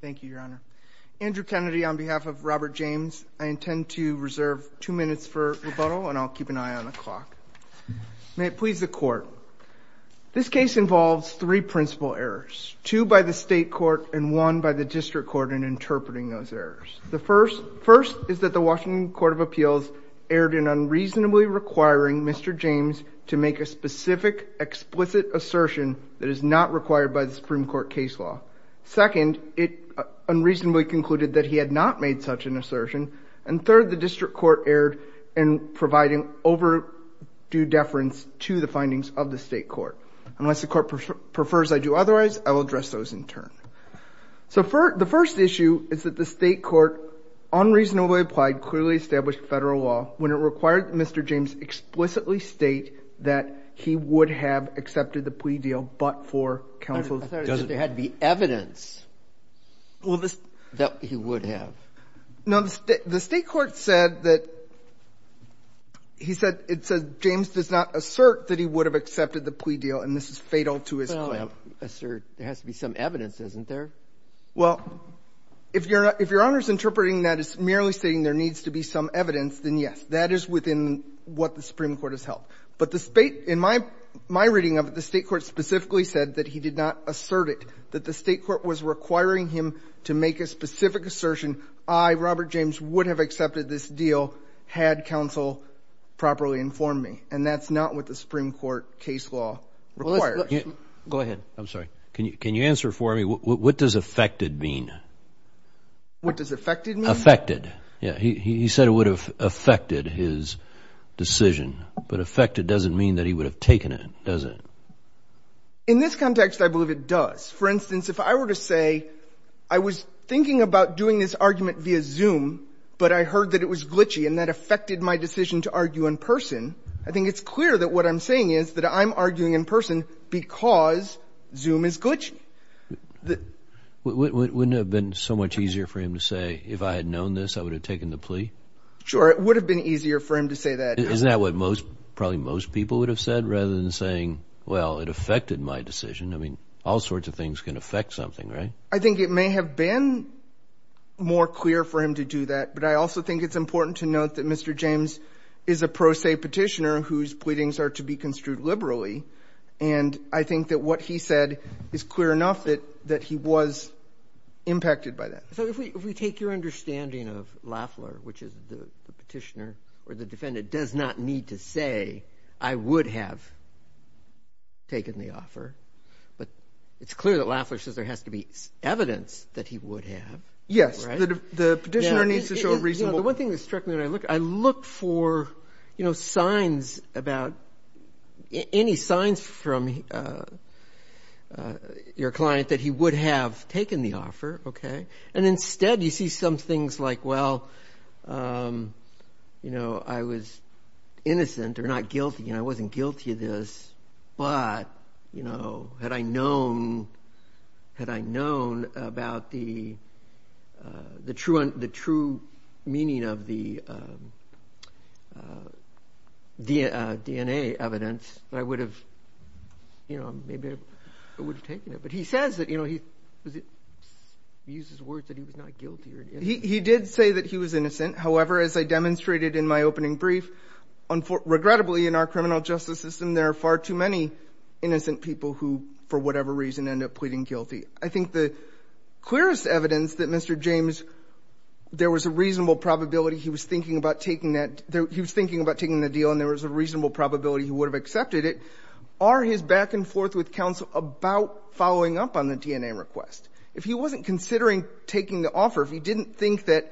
Thank you, Your Honor. Andrew Kennedy, on behalf of Robert James, I intend to reserve two minutes for rebuttal, and I'll keep an eye on the clock. May it please the Court, this case involves three principal errors, two by the state court and one by the district court in interpreting those errors. The first is that the Washington Court of Appeals erred in unreasonably requiring Mr. James to make a specific explicit assertion that is not required by the Supreme Court case law. Second, it unreasonably concluded that he had not made such an assertion. And third, the district court erred in providing overdue deference to the findings of the state court. Unless the court prefers I do otherwise, I will address those in turn. So the first issue is that the state court, unreasonably applied, clearly established federal law when it required Mr. James explicitly state that he would have accepted the plea deal but for counsel's There had to be evidence that he would have. No, the state court said that he said, it said James does not assert that he would have accepted the plea deal, and this is fatal to his claim. Well, assert, there has to be some evidence, isn't there? Well, if Your Honor is interpreting that as merely stating there needs to be some evidence, then yes. That is within what the Supreme Court has held. But in my reading of it, the state court specifically said that he did not assert it, that the state court was requiring him to make a specific assertion, I, Robert James, would have accepted this deal had counsel properly informed me. And that's not what the Supreme Court case law requires. Go ahead, I'm sorry. Can you answer for me, what does affected mean? What does affected mean? Affected, yeah. He said it would have affected his decision. But affected doesn't mean that he would have taken it, does it? In this context, I believe it does. For instance, if I were to say, I was thinking about doing this argument via Zoom, but I heard that it was glitchy and that affected my decision to argue in person, I think it's clear that what I'm saying is that I'm arguing in person because Zoom is glitchy. Wouldn't it have been so much easier for him to say, if I had known this, I would have taken the plea? Sure, it would have been easier for him to say that. Isn't that what most, probably most people would have said, rather than saying, well, it affected my decision. I mean, all sorts of things can affect something, right? I think it may have been more clear for him to do that, but I also think it's important to note that Mr. James is a pro se petitioner whose pleadings are to be construed liberally, and I think that what he said is clear enough that he was impacted by that. So if we take your understanding of Lafler, which is the petitioner or the defendant, it does not need to say, I would have taken the offer, but it's clear that Lafler says there has to be evidence that he would have, right? Yes, the petitioner needs to show reasonable. The one thing that struck me when I looked, I looked for signs about, any signs from your client that he would have taken the offer, okay? And instead you see some things like, well, I was innocent or not guilty, and I wasn't guilty of this, but had I known about the true meaning of the DNA evidence, I would have, maybe I would have taken it. But he says that, he uses words that he was not guilty. He did say that he was innocent. However, as I demonstrated in my opening brief, regrettably in our criminal justice system, there are far too many innocent people who, for whatever reason, end up pleading guilty. I think the clearest evidence that Mr. James, there was a reasonable probability he was thinking about taking that, he was thinking about taking the deal, and there was a reasonable probability he would have accepted it, are his back and forth with counsel about following up on the DNA request. If he wasn't considering taking the offer, if he didn't think that,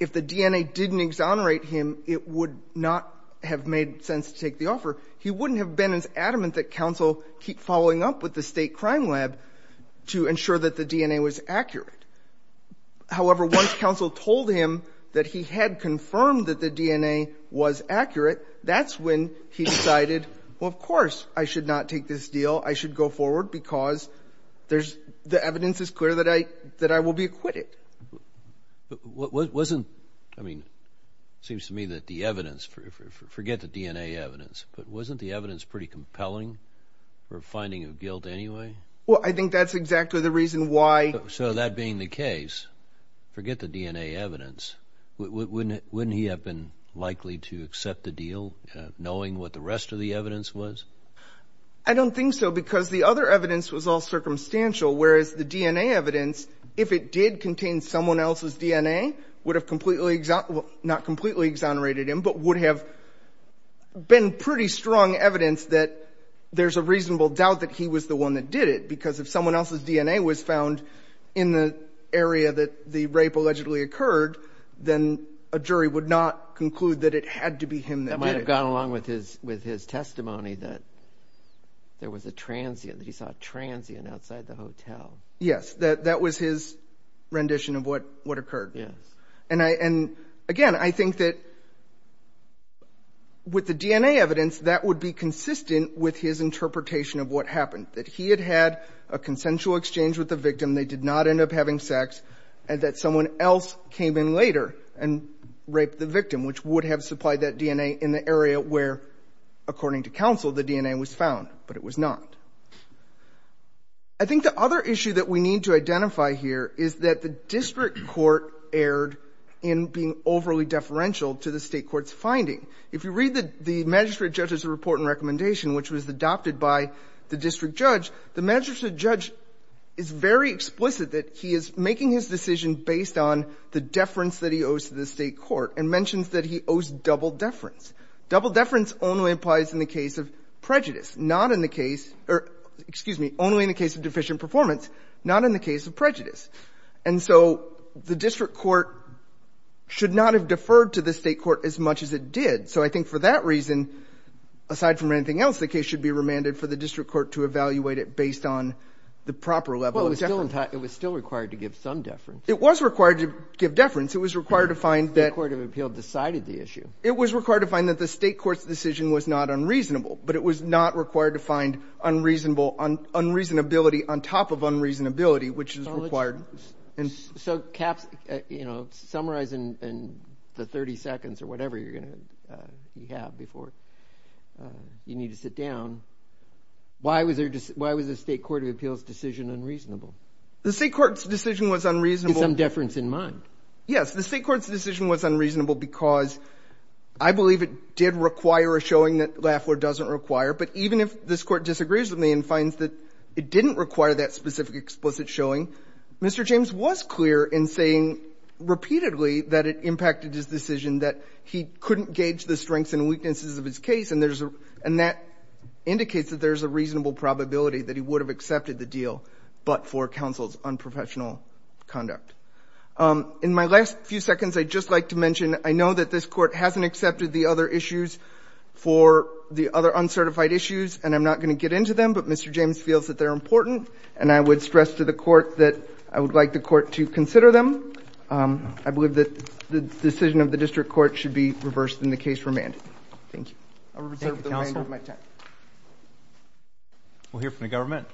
if the DNA didn't exonerate him, it would not have made sense to take the offer, he wouldn't have been as adamant that counsel keep following up with the state crime lab to ensure that the DNA was accurate. However, once counsel told him that he had confirmed that the DNA was accurate, that's when he decided, well, of course, I should not take this deal. I should go forward because there's, the evidence is clear that I will be acquitted. But wasn't, I mean, seems to me that the evidence, forget the DNA evidence, but wasn't the evidence pretty compelling for finding a guilt anyway? Well, I think that's exactly the reason why. So that being the case, forget the DNA evidence, wouldn't he have been likely to accept the deal knowing what the rest of the evidence was? I don't think so because the other evidence was all circumstantial, whereas the DNA evidence, if it did contain someone else's DNA, would have completely, not completely exonerated him, but would have been pretty strong evidence that there's a reasonable doubt that he was the one that did it because if someone else's DNA was found in the area that the rape allegedly occurred, then a jury would not conclude that it had to be him that did it. That might've gone along with his testimony that there was a transient, that he saw a transient outside the hotel. Yes, that was his rendition of what occurred. Yes. And again, I think that with the DNA evidence, that would be consistent with his interpretation of what happened, that he had had a consensual exchange with the victim, they did not end up having sex, and that someone else came in later and raped the victim, which would have supplied that DNA in the area where, according to counsel, the DNA was found, but it was not. I think the other issue that we need to identify here is that the district court erred in being overly deferential to the state court's finding. If you read the magistrate judge's report and recommendation which was adopted by the district judge, the magistrate judge is very explicit that he is making his decision based on the deference that he owes to the state court and mentions that he owes double deference. Double deference only applies in the case of prejudice, not in the case, or excuse me, only in the case of deficient performance, not in the case of prejudice. And so the district court should not have deferred to the state court as much as it did. So I think for that reason, aside from anything else, the case should be remanded for the district court to evaluate it based on the proper level of deference. It was still required to give some deference. It was required to give deference. It was required to find that- The court of appeal decided the issue. It was required to find that the state court's decision was not unreasonable, but it was not required to find unreasonable, unreasonability on top of unreasonability, which is required. So caps, you know, summarize in the 30 seconds or whatever you're gonna have before you need to sit down. Why was the state court of appeals decision unreasonable? The state court's decision was unreasonable- With some deference in mind. Yes, the state court's decision was unreasonable because I believe it did require a showing that Lafleur doesn't require. But even if this court disagrees with me and finds that it didn't require that specific explicit showing, Mr. James was clear in saying repeatedly that it impacted his decision, that he couldn't gauge the strengths and weaknesses of his case. And that indicates that there's a reasonable probability that he would have accepted the deal, but for counsel's unprofessional conduct. In my last few seconds, I'd just like to mention, I know that this court hasn't accepted the other issues for the other uncertified issues, and I'm not gonna get into them, but Mr. James feels that they're important. And I would stress to the court that I would like the court to consider them. I believe that the decision of the district court should be reversed and the case remanded. Thank you. I'll reserve the remainder of my time. We'll hear from the government.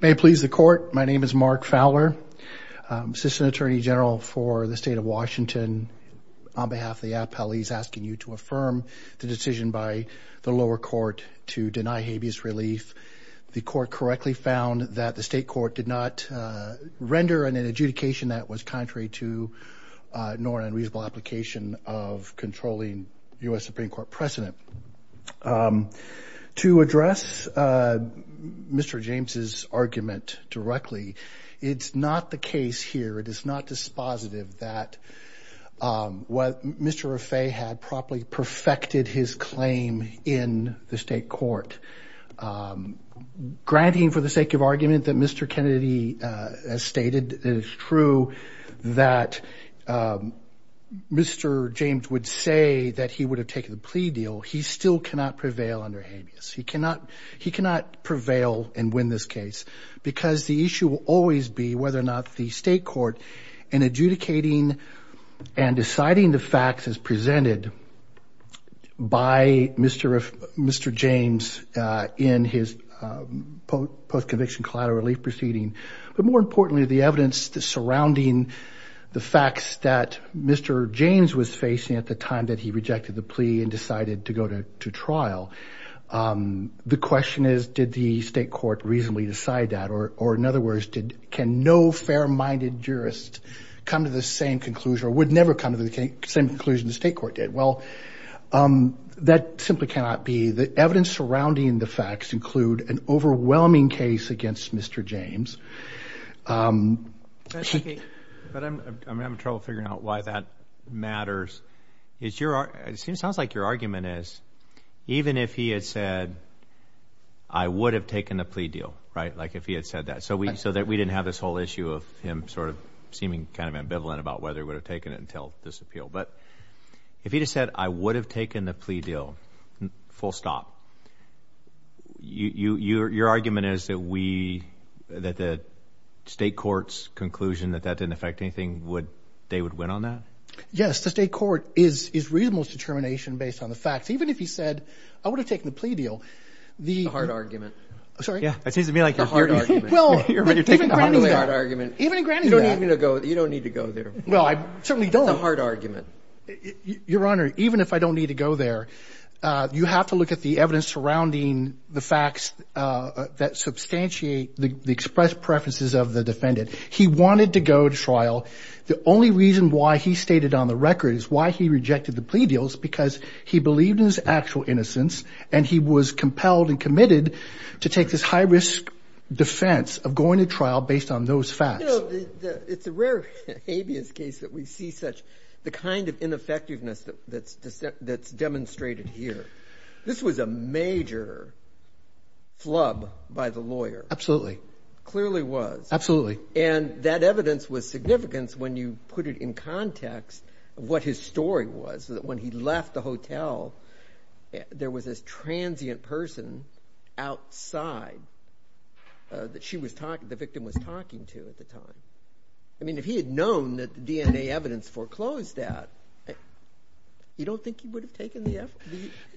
May it please the court. My name is Mark Fowler, assistant attorney general for the state of Washington. On behalf of the app, I'll ease asking you to affirm the decision by the lower court to deny habeas relief. The court correctly found that the state court did not render an adjudication that was contrary to nor unreasonable application of controlling US Supreme Court precedent. Um, to address Mr. James's argument directly, it's not the case here. It is not dispositive that what Mr. Raffaele had properly perfected his claim in the state court. Granting for the sake of argument that Mr. Kennedy has stated is true, that Mr. James would say that he would have taken the plea deal. He still cannot prevail under habeas. He cannot prevail and win this case because the issue will always be whether or not the state court in adjudicating and deciding the facts as presented by Mr. James in his post-conviction collateral relief proceeding, but more importantly, the evidence surrounding the facts that Mr. James was facing at the time that he rejected the plea and decided to go to trial. The question is, did the state court reasonably decide that? Or in other words, can no fair-minded jurist come to the same conclusion or would never come to the same conclusion the state court did? Well, that simply cannot be. The evidence surrounding the facts include an overwhelming case against Mr. James. But I'm having trouble figuring out why that matters. It sounds like your argument is, even if he had said, I would have taken the plea deal, right? Like if he had said that, so that we didn't have this whole issue of him sort of seeming kind of ambivalent about whether he would have taken it until this appeal. But if he just said, I would have taken the plea deal, full stop, your argument is that we, that the state court's conclusion that that didn't affect anything, they would win on that? Yes, the state court is reasonable determination based on the facts. Even if he said, I would have taken the plea deal, the- A hard argument. Sorry? Yeah, that seems to me like a hard argument. Well, even granting that- You're taking a really hard argument. Even in granting that- You don't need to go there. Well, I certainly don't. It's a hard argument. Your Honor, even if I don't need to go there, that substantiate the expressed preferences of the defendant. He wanted to go to trial. The only reason why he stated on the record is why he rejected the plea deals, because he believed in his actual innocence and he was compelled and committed to take this high risk defense of going to trial based on those facts. It's a rare habeas case that we see such, the kind of ineffectiveness that's demonstrated here. This was a major flub by the lawyer. Absolutely. Clearly was. Absolutely. And that evidence was significant when you put it in context of what his story was, that when he left the hotel, there was this transient person outside that the victim was talking to at the time. I mean, if he had known that the DNA evidence foreclosed that, you don't think he would've taken the F?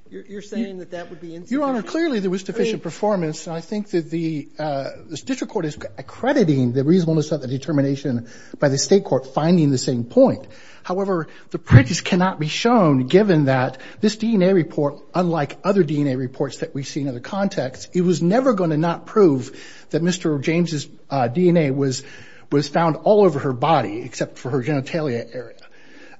You're saying that that would be insufficient? Your Honor, clearly there was deficient performance, and I think that the district court is accrediting the reasonableness of the determination by the state court finding the same point. However, the prejudice cannot be shown given that this DNA report, unlike other DNA reports that we've seen in the context, it was never going to not prove that Mr. James's DNA was found all over her body, except for her genitalia area.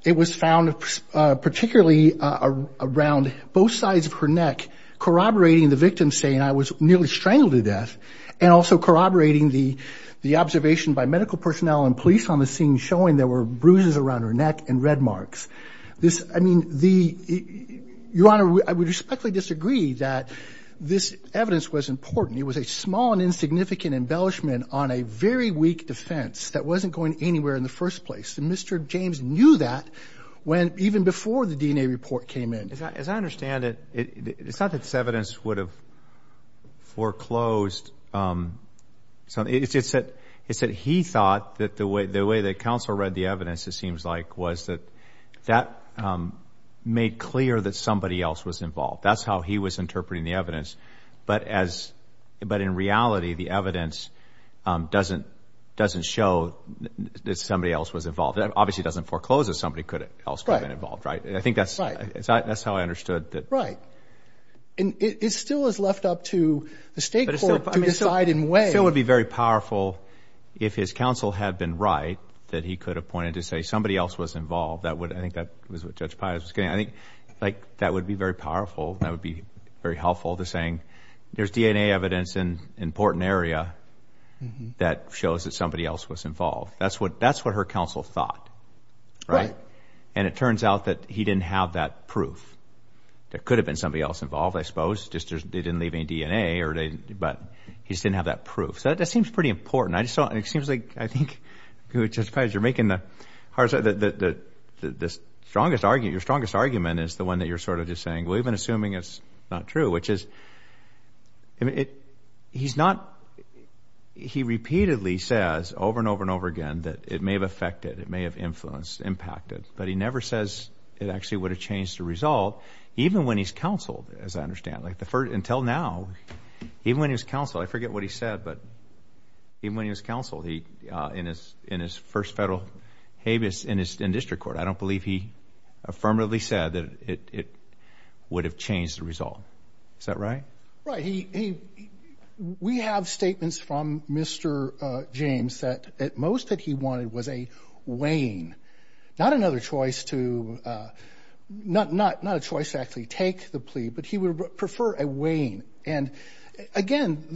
It was found particularly around both sides of her neck, corroborating the victim saying I was nearly strangled to death, and also corroborating the observation by medical personnel and police on the scene showing there were bruises around her neck and red marks. Your Honor, I would respectfully disagree that this evidence was important. It was a small and insignificant embellishment on a very weak defense that wasn't going anywhere in the first place, and Mr. James knew that even before the DNA report came in. As I understand it, it's not that this evidence would have foreclosed. It's that he thought that the way that counsel read the evidence, it seems like, was that that made clear that somebody else was involved. That's how he was interpreting the evidence. But in reality, the evidence doesn't show that somebody else was involved. That obviously doesn't foreclose that somebody else could have been involved, right? I think that's how I understood that. Right. And it still is left up to the state court to decide in what way. But it still would be very powerful if his counsel had been right that he could have pointed to say somebody else was involved. I think that was what Judge Pius was getting at. I think that would be very powerful. That would be very helpful to saying there's DNA evidence in an important area that shows that somebody else was involved. That's what her counsel thought, right? And it turns out that he didn't have that proof that could have been somebody else involved, I suppose, just they didn't leave any DNA, but he just didn't have that proof. So that seems pretty important. I just thought, it seems like, I think, Judge Pius, you're making the hardest, the strongest argument, your strongest argument is the one that you're sort of just saying, well, you've been assuming it's not true, which is, I mean, he's not, that it may have affected, it may have influenced, impacted, but he never says it actually would have changed the result even when he's counseled, as I understand, like the first, until now, even when he was counseled, I forget what he said, but even when he was counseled, he, in his first federal habeas in district court, I don't believe he affirmatively said that it would have changed the result. Is that right? Right, he, we have statements from Mr. James that most that he wanted was a weighing, not another choice to, not a choice to actually take the plea, but he would prefer a weighing. And again,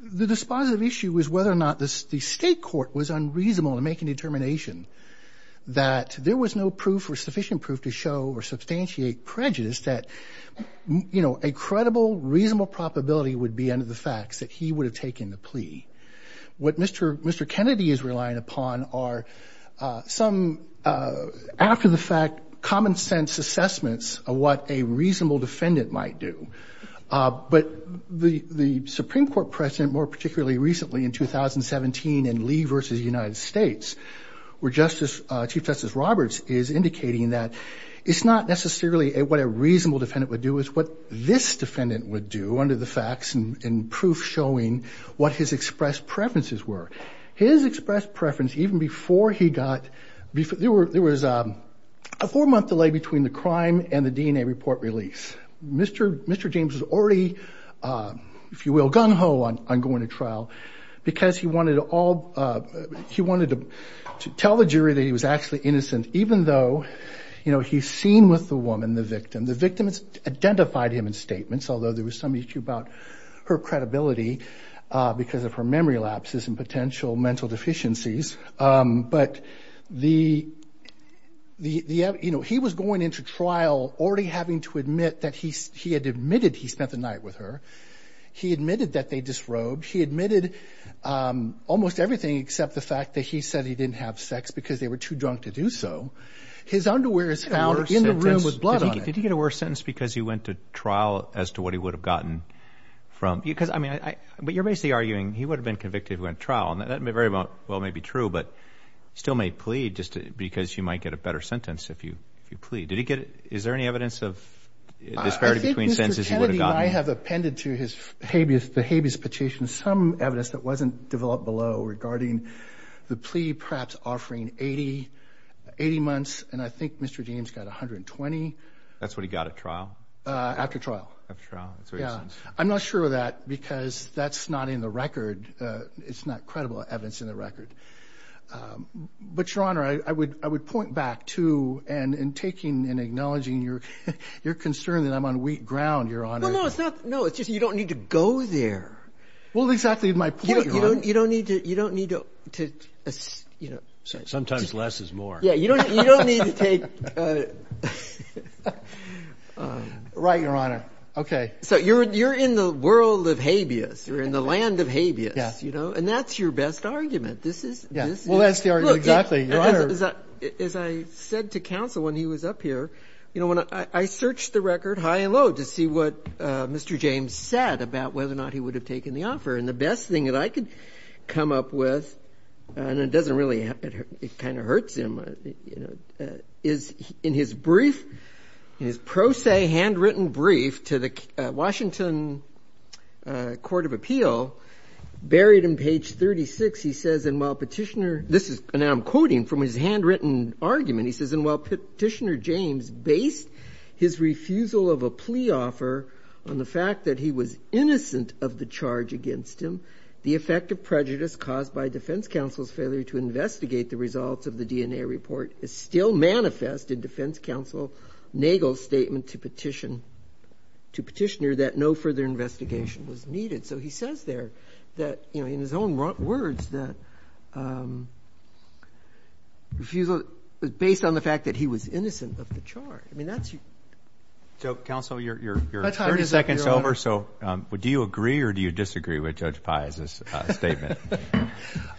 the dispositive issue was whether or not the state court was unreasonable in making determination that there was no proof or sufficient proof to show or substantiate prejudice that a credible, reasonable probability would be under the facts that he would have taken the plea. What Mr. Kennedy is relying upon are some, after the fact, common sense assessments of what a reasonable defendant might do. But the Supreme Court precedent, more particularly recently in 2017 in Lee versus United States, where Chief Justice Roberts is indicating that it's not necessarily what a reasonable defendant would do, it's what this defendant would do under the facts and proof showing what his expressed preferences were. His expressed preference, even before he got, there was a four month delay between the crime and the DNA report release. Mr. James was already, if you will, gung-ho on going to trial because he wanted to all, he wanted to tell the jury that he was actually innocent, even though, you know, he's seen with the woman, the victim, the victim has identified him in statements, although there was some issue about her credibility because of her memory lapses and potential mental deficiencies. But the, you know, he was going into trial already having to admit that he had admitted he spent the night with her. He admitted that they disrobed. He admitted almost everything except the fact that he said he didn't have sex because they were too drunk to do so. His underwear is found in the room with blood on it. Did he get a worse sentence because he went to trial as to what he would have gotten from, because, I mean, but you're basically arguing he would have been convicted if he went to trial and that may very well may be true, but still may plead just because you might get a better sentence if you plead. Did he get, is there any evidence of disparity between sentences he would have gotten? I think Mr. Kennedy might have appended to the habeas petition some evidence that wasn't developed below regarding the plea, perhaps offering 80 months. And I think Mr. James got 120. That's what he got at trial? After trial. After trial, that's what he says. I'm not sure of that because that's not in the record. It's not credible evidence in the record. But Your Honor, I would point back to, and in taking and acknowledging your concern that I'm on wheat ground, Your Honor. Well, no, it's not, no, it's just, you don't need to go there. Well, exactly my point, Your Honor. You don't need to, you don't need to, you know. Sometimes less is more. Yeah, you don't need to take, right, Your Honor, okay. So you're in the world of habeas, you're in the land of habeas, you know, and that's your best argument. This is, this is. Well, that's the argument, exactly, Your Honor. As I said to counsel when he was up here, you know, when I searched the record high and low to see what Mr. James said about whether or not he would have taken the offer. And the best thing that I could come up with, and it doesn't really, it kind of hurts him, is in his brief, in his pro se handwritten brief to the Washington Court of Appeal, buried in page 36, he says, and while Petitioner, this is, and I'm quoting from his handwritten argument, he says, and while Petitioner James based his refusal of a plea offer on the fact that he was innocent of the charge against him, the effect of prejudice caused by defense counsel's failure to investigate the results of the DNA report is still manifest in defense counsel Nagel's statement to Petitioner that no further investigation was needed. So he says there that, you know, in his own words, that refusal was based on the fact that he was innocent of the charge. I mean, that's. So, counsel, you're 30 seconds over, so do you agree or do you disagree with Judge Pai's statement?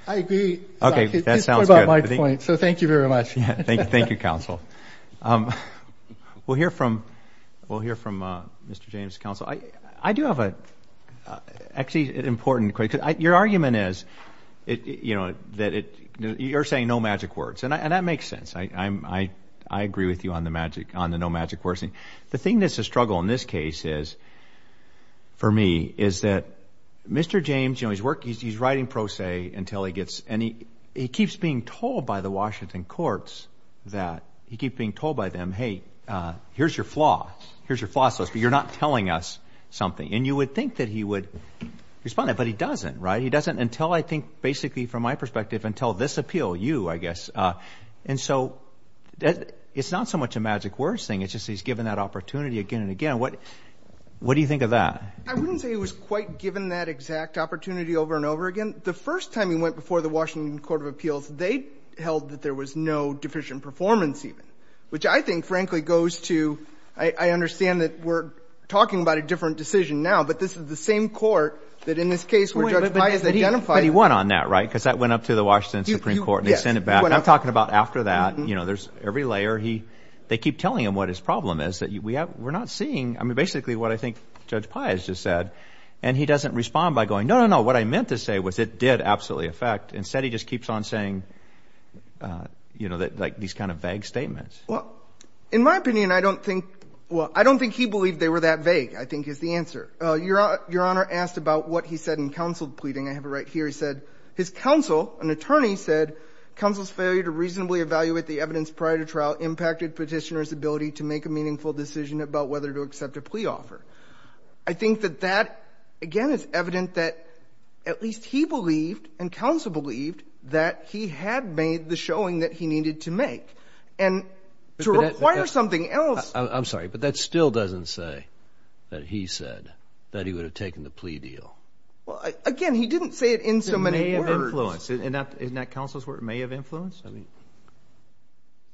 I agree. Okay, that sounds good. At this point, about my point. So thank you very much. Thank you, counsel. We'll hear from, we'll hear from Mr. James, counsel. I do have a, actually, an important question. Your argument is, you know, that it, you're saying no magic words, and that makes sense. I agree with you on the magic, on the no magic words. The thing that's a struggle in this case is, for me, is that Mr. James, you know, he's writing pro se until he gets, and he keeps being told by the Washington courts that, he keeps being told by them, hey, here's your flaws, here's your flaws, but you're not telling us something. And you would think that he would respond to that, but he doesn't, right? He doesn't until, I think, basically, from my perspective, until this appeal, you, I guess. And so, it's not so much a magic words thing, it's just he's given that opportunity again and again. What do you think of that? I wouldn't say he was quite given that exact opportunity over and over again. The first time he went before the Washington Court of Appeals, they held that there was no deficient performance even, which I think, frankly, goes to, I understand that we're talking about a different decision now, but this is the same court that, in this case, where Judge Pius identified- But he won on that, right? Because that went up to the Washington Supreme Court and they sent it back. I'm talking about after that, you know, there's every layer, they keep telling him what his problem is, that we're not seeing, I mean, basically, what I think Judge Pius just said. And he doesn't respond by going, no, no, no, what I meant to say was it did absolutely affect. Instead, he just keeps on saying, you know, like these kind of vague statements. Well, in my opinion, I don't think, well, I don't think he believed they were that vague, I think is the answer. Your Honor asked about what he said in counsel pleading. I have it right here. He said, his counsel, an attorney said, counsel's failure to reasonably evaluate the evidence prior to trial impacted petitioner's ability to make a meaningful decision about whether to accept a plea offer. I think that that, again, is evident that at least he believed, and counsel believed, that he had made the showing that he needed to make. And to require something else. I'm sorry, but that still doesn't say that he said that he would have taken the plea deal. Well, again, he didn't say it in so many words. It may have influenced, isn't that counsel's word, may have influenced? I mean,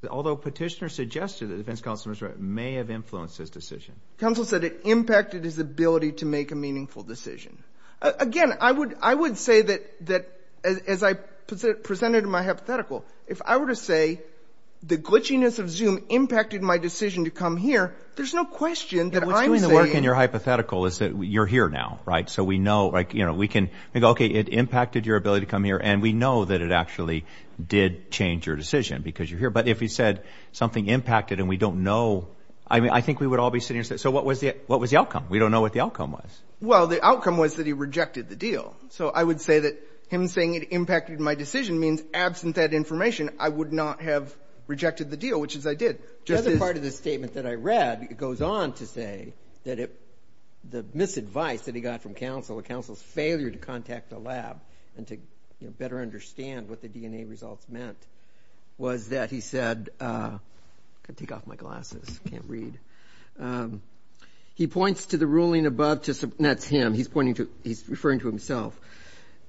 although petitioner suggested that defense counsel may have influenced his decision. Counsel said it impacted his ability to make a meaningful decision. Again, I would say that, as I presented in my hypothetical, if I were to say the glitchiness of Zoom impacted my decision to come here, there's no question that I'm saying- What's doing the work in your hypothetical is that you're here now, right? So we know, like, you know, we can go, okay, it impacted your ability to come here, and we know that it actually did change your decision because you're here. But if he said something impacted and we don't know, I mean, I think we would all be sitting here saying, so what was the outcome? We don't know what the outcome was. Well, the outcome was that he rejected the deal. So I would say that him saying it impacted my decision means absent that information, I would not have rejected the deal, which is I did. The other part of the statement that I read, it goes on to say that the misadvice that he got from counsel, a counsel's failure to contact the lab and to better understand what the DNA results meant, was that he said, I gotta take off my glasses, can't read. He points to the ruling above to, that's him, he's pointing to, he's referring to himself,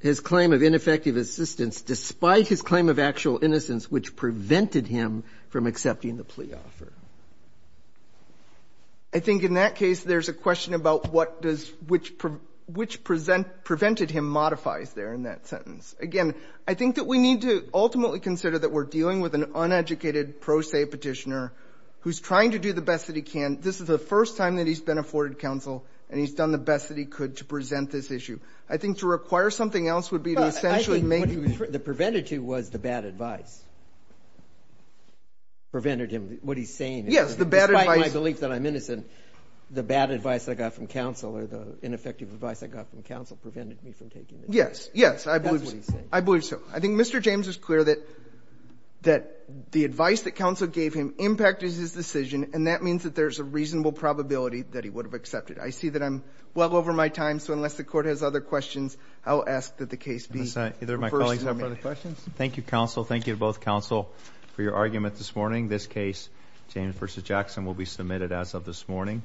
his claim of ineffective assistance, despite his claim of actual innocence, which prevented him from accepting the plea offer. I think in that case, there's a question about what does, which prevented him modifies there in that sentence. Again, I think that we need to ultimately consider that we're dealing with an uneducated pro se petitioner who's trying to do the best that he can. This is the first time that he's been afforded counsel and he's done the best that he could to present this issue. I think to require something else would be to essentially make- The prevented to was the bad advice. Prevented him, what he's saying- Yes, the bad advice- Despite my belief that I'm innocent, the bad advice that I got from counsel or the ineffective advice I got from counsel prevented me from taking it. Yes, yes, I believe so. I think Mr. James is clear that the advice that counsel gave him impacted his decision and that means that there's a reasonable probability that he would have accepted. I see that I'm well over my time, so unless the court has other questions, I'll ask that the case be- Either of my colleagues have other questions? Thank you, counsel. Thank you to both counsel for your argument this morning. This case, James versus Jackson, will be submitted as of this morning.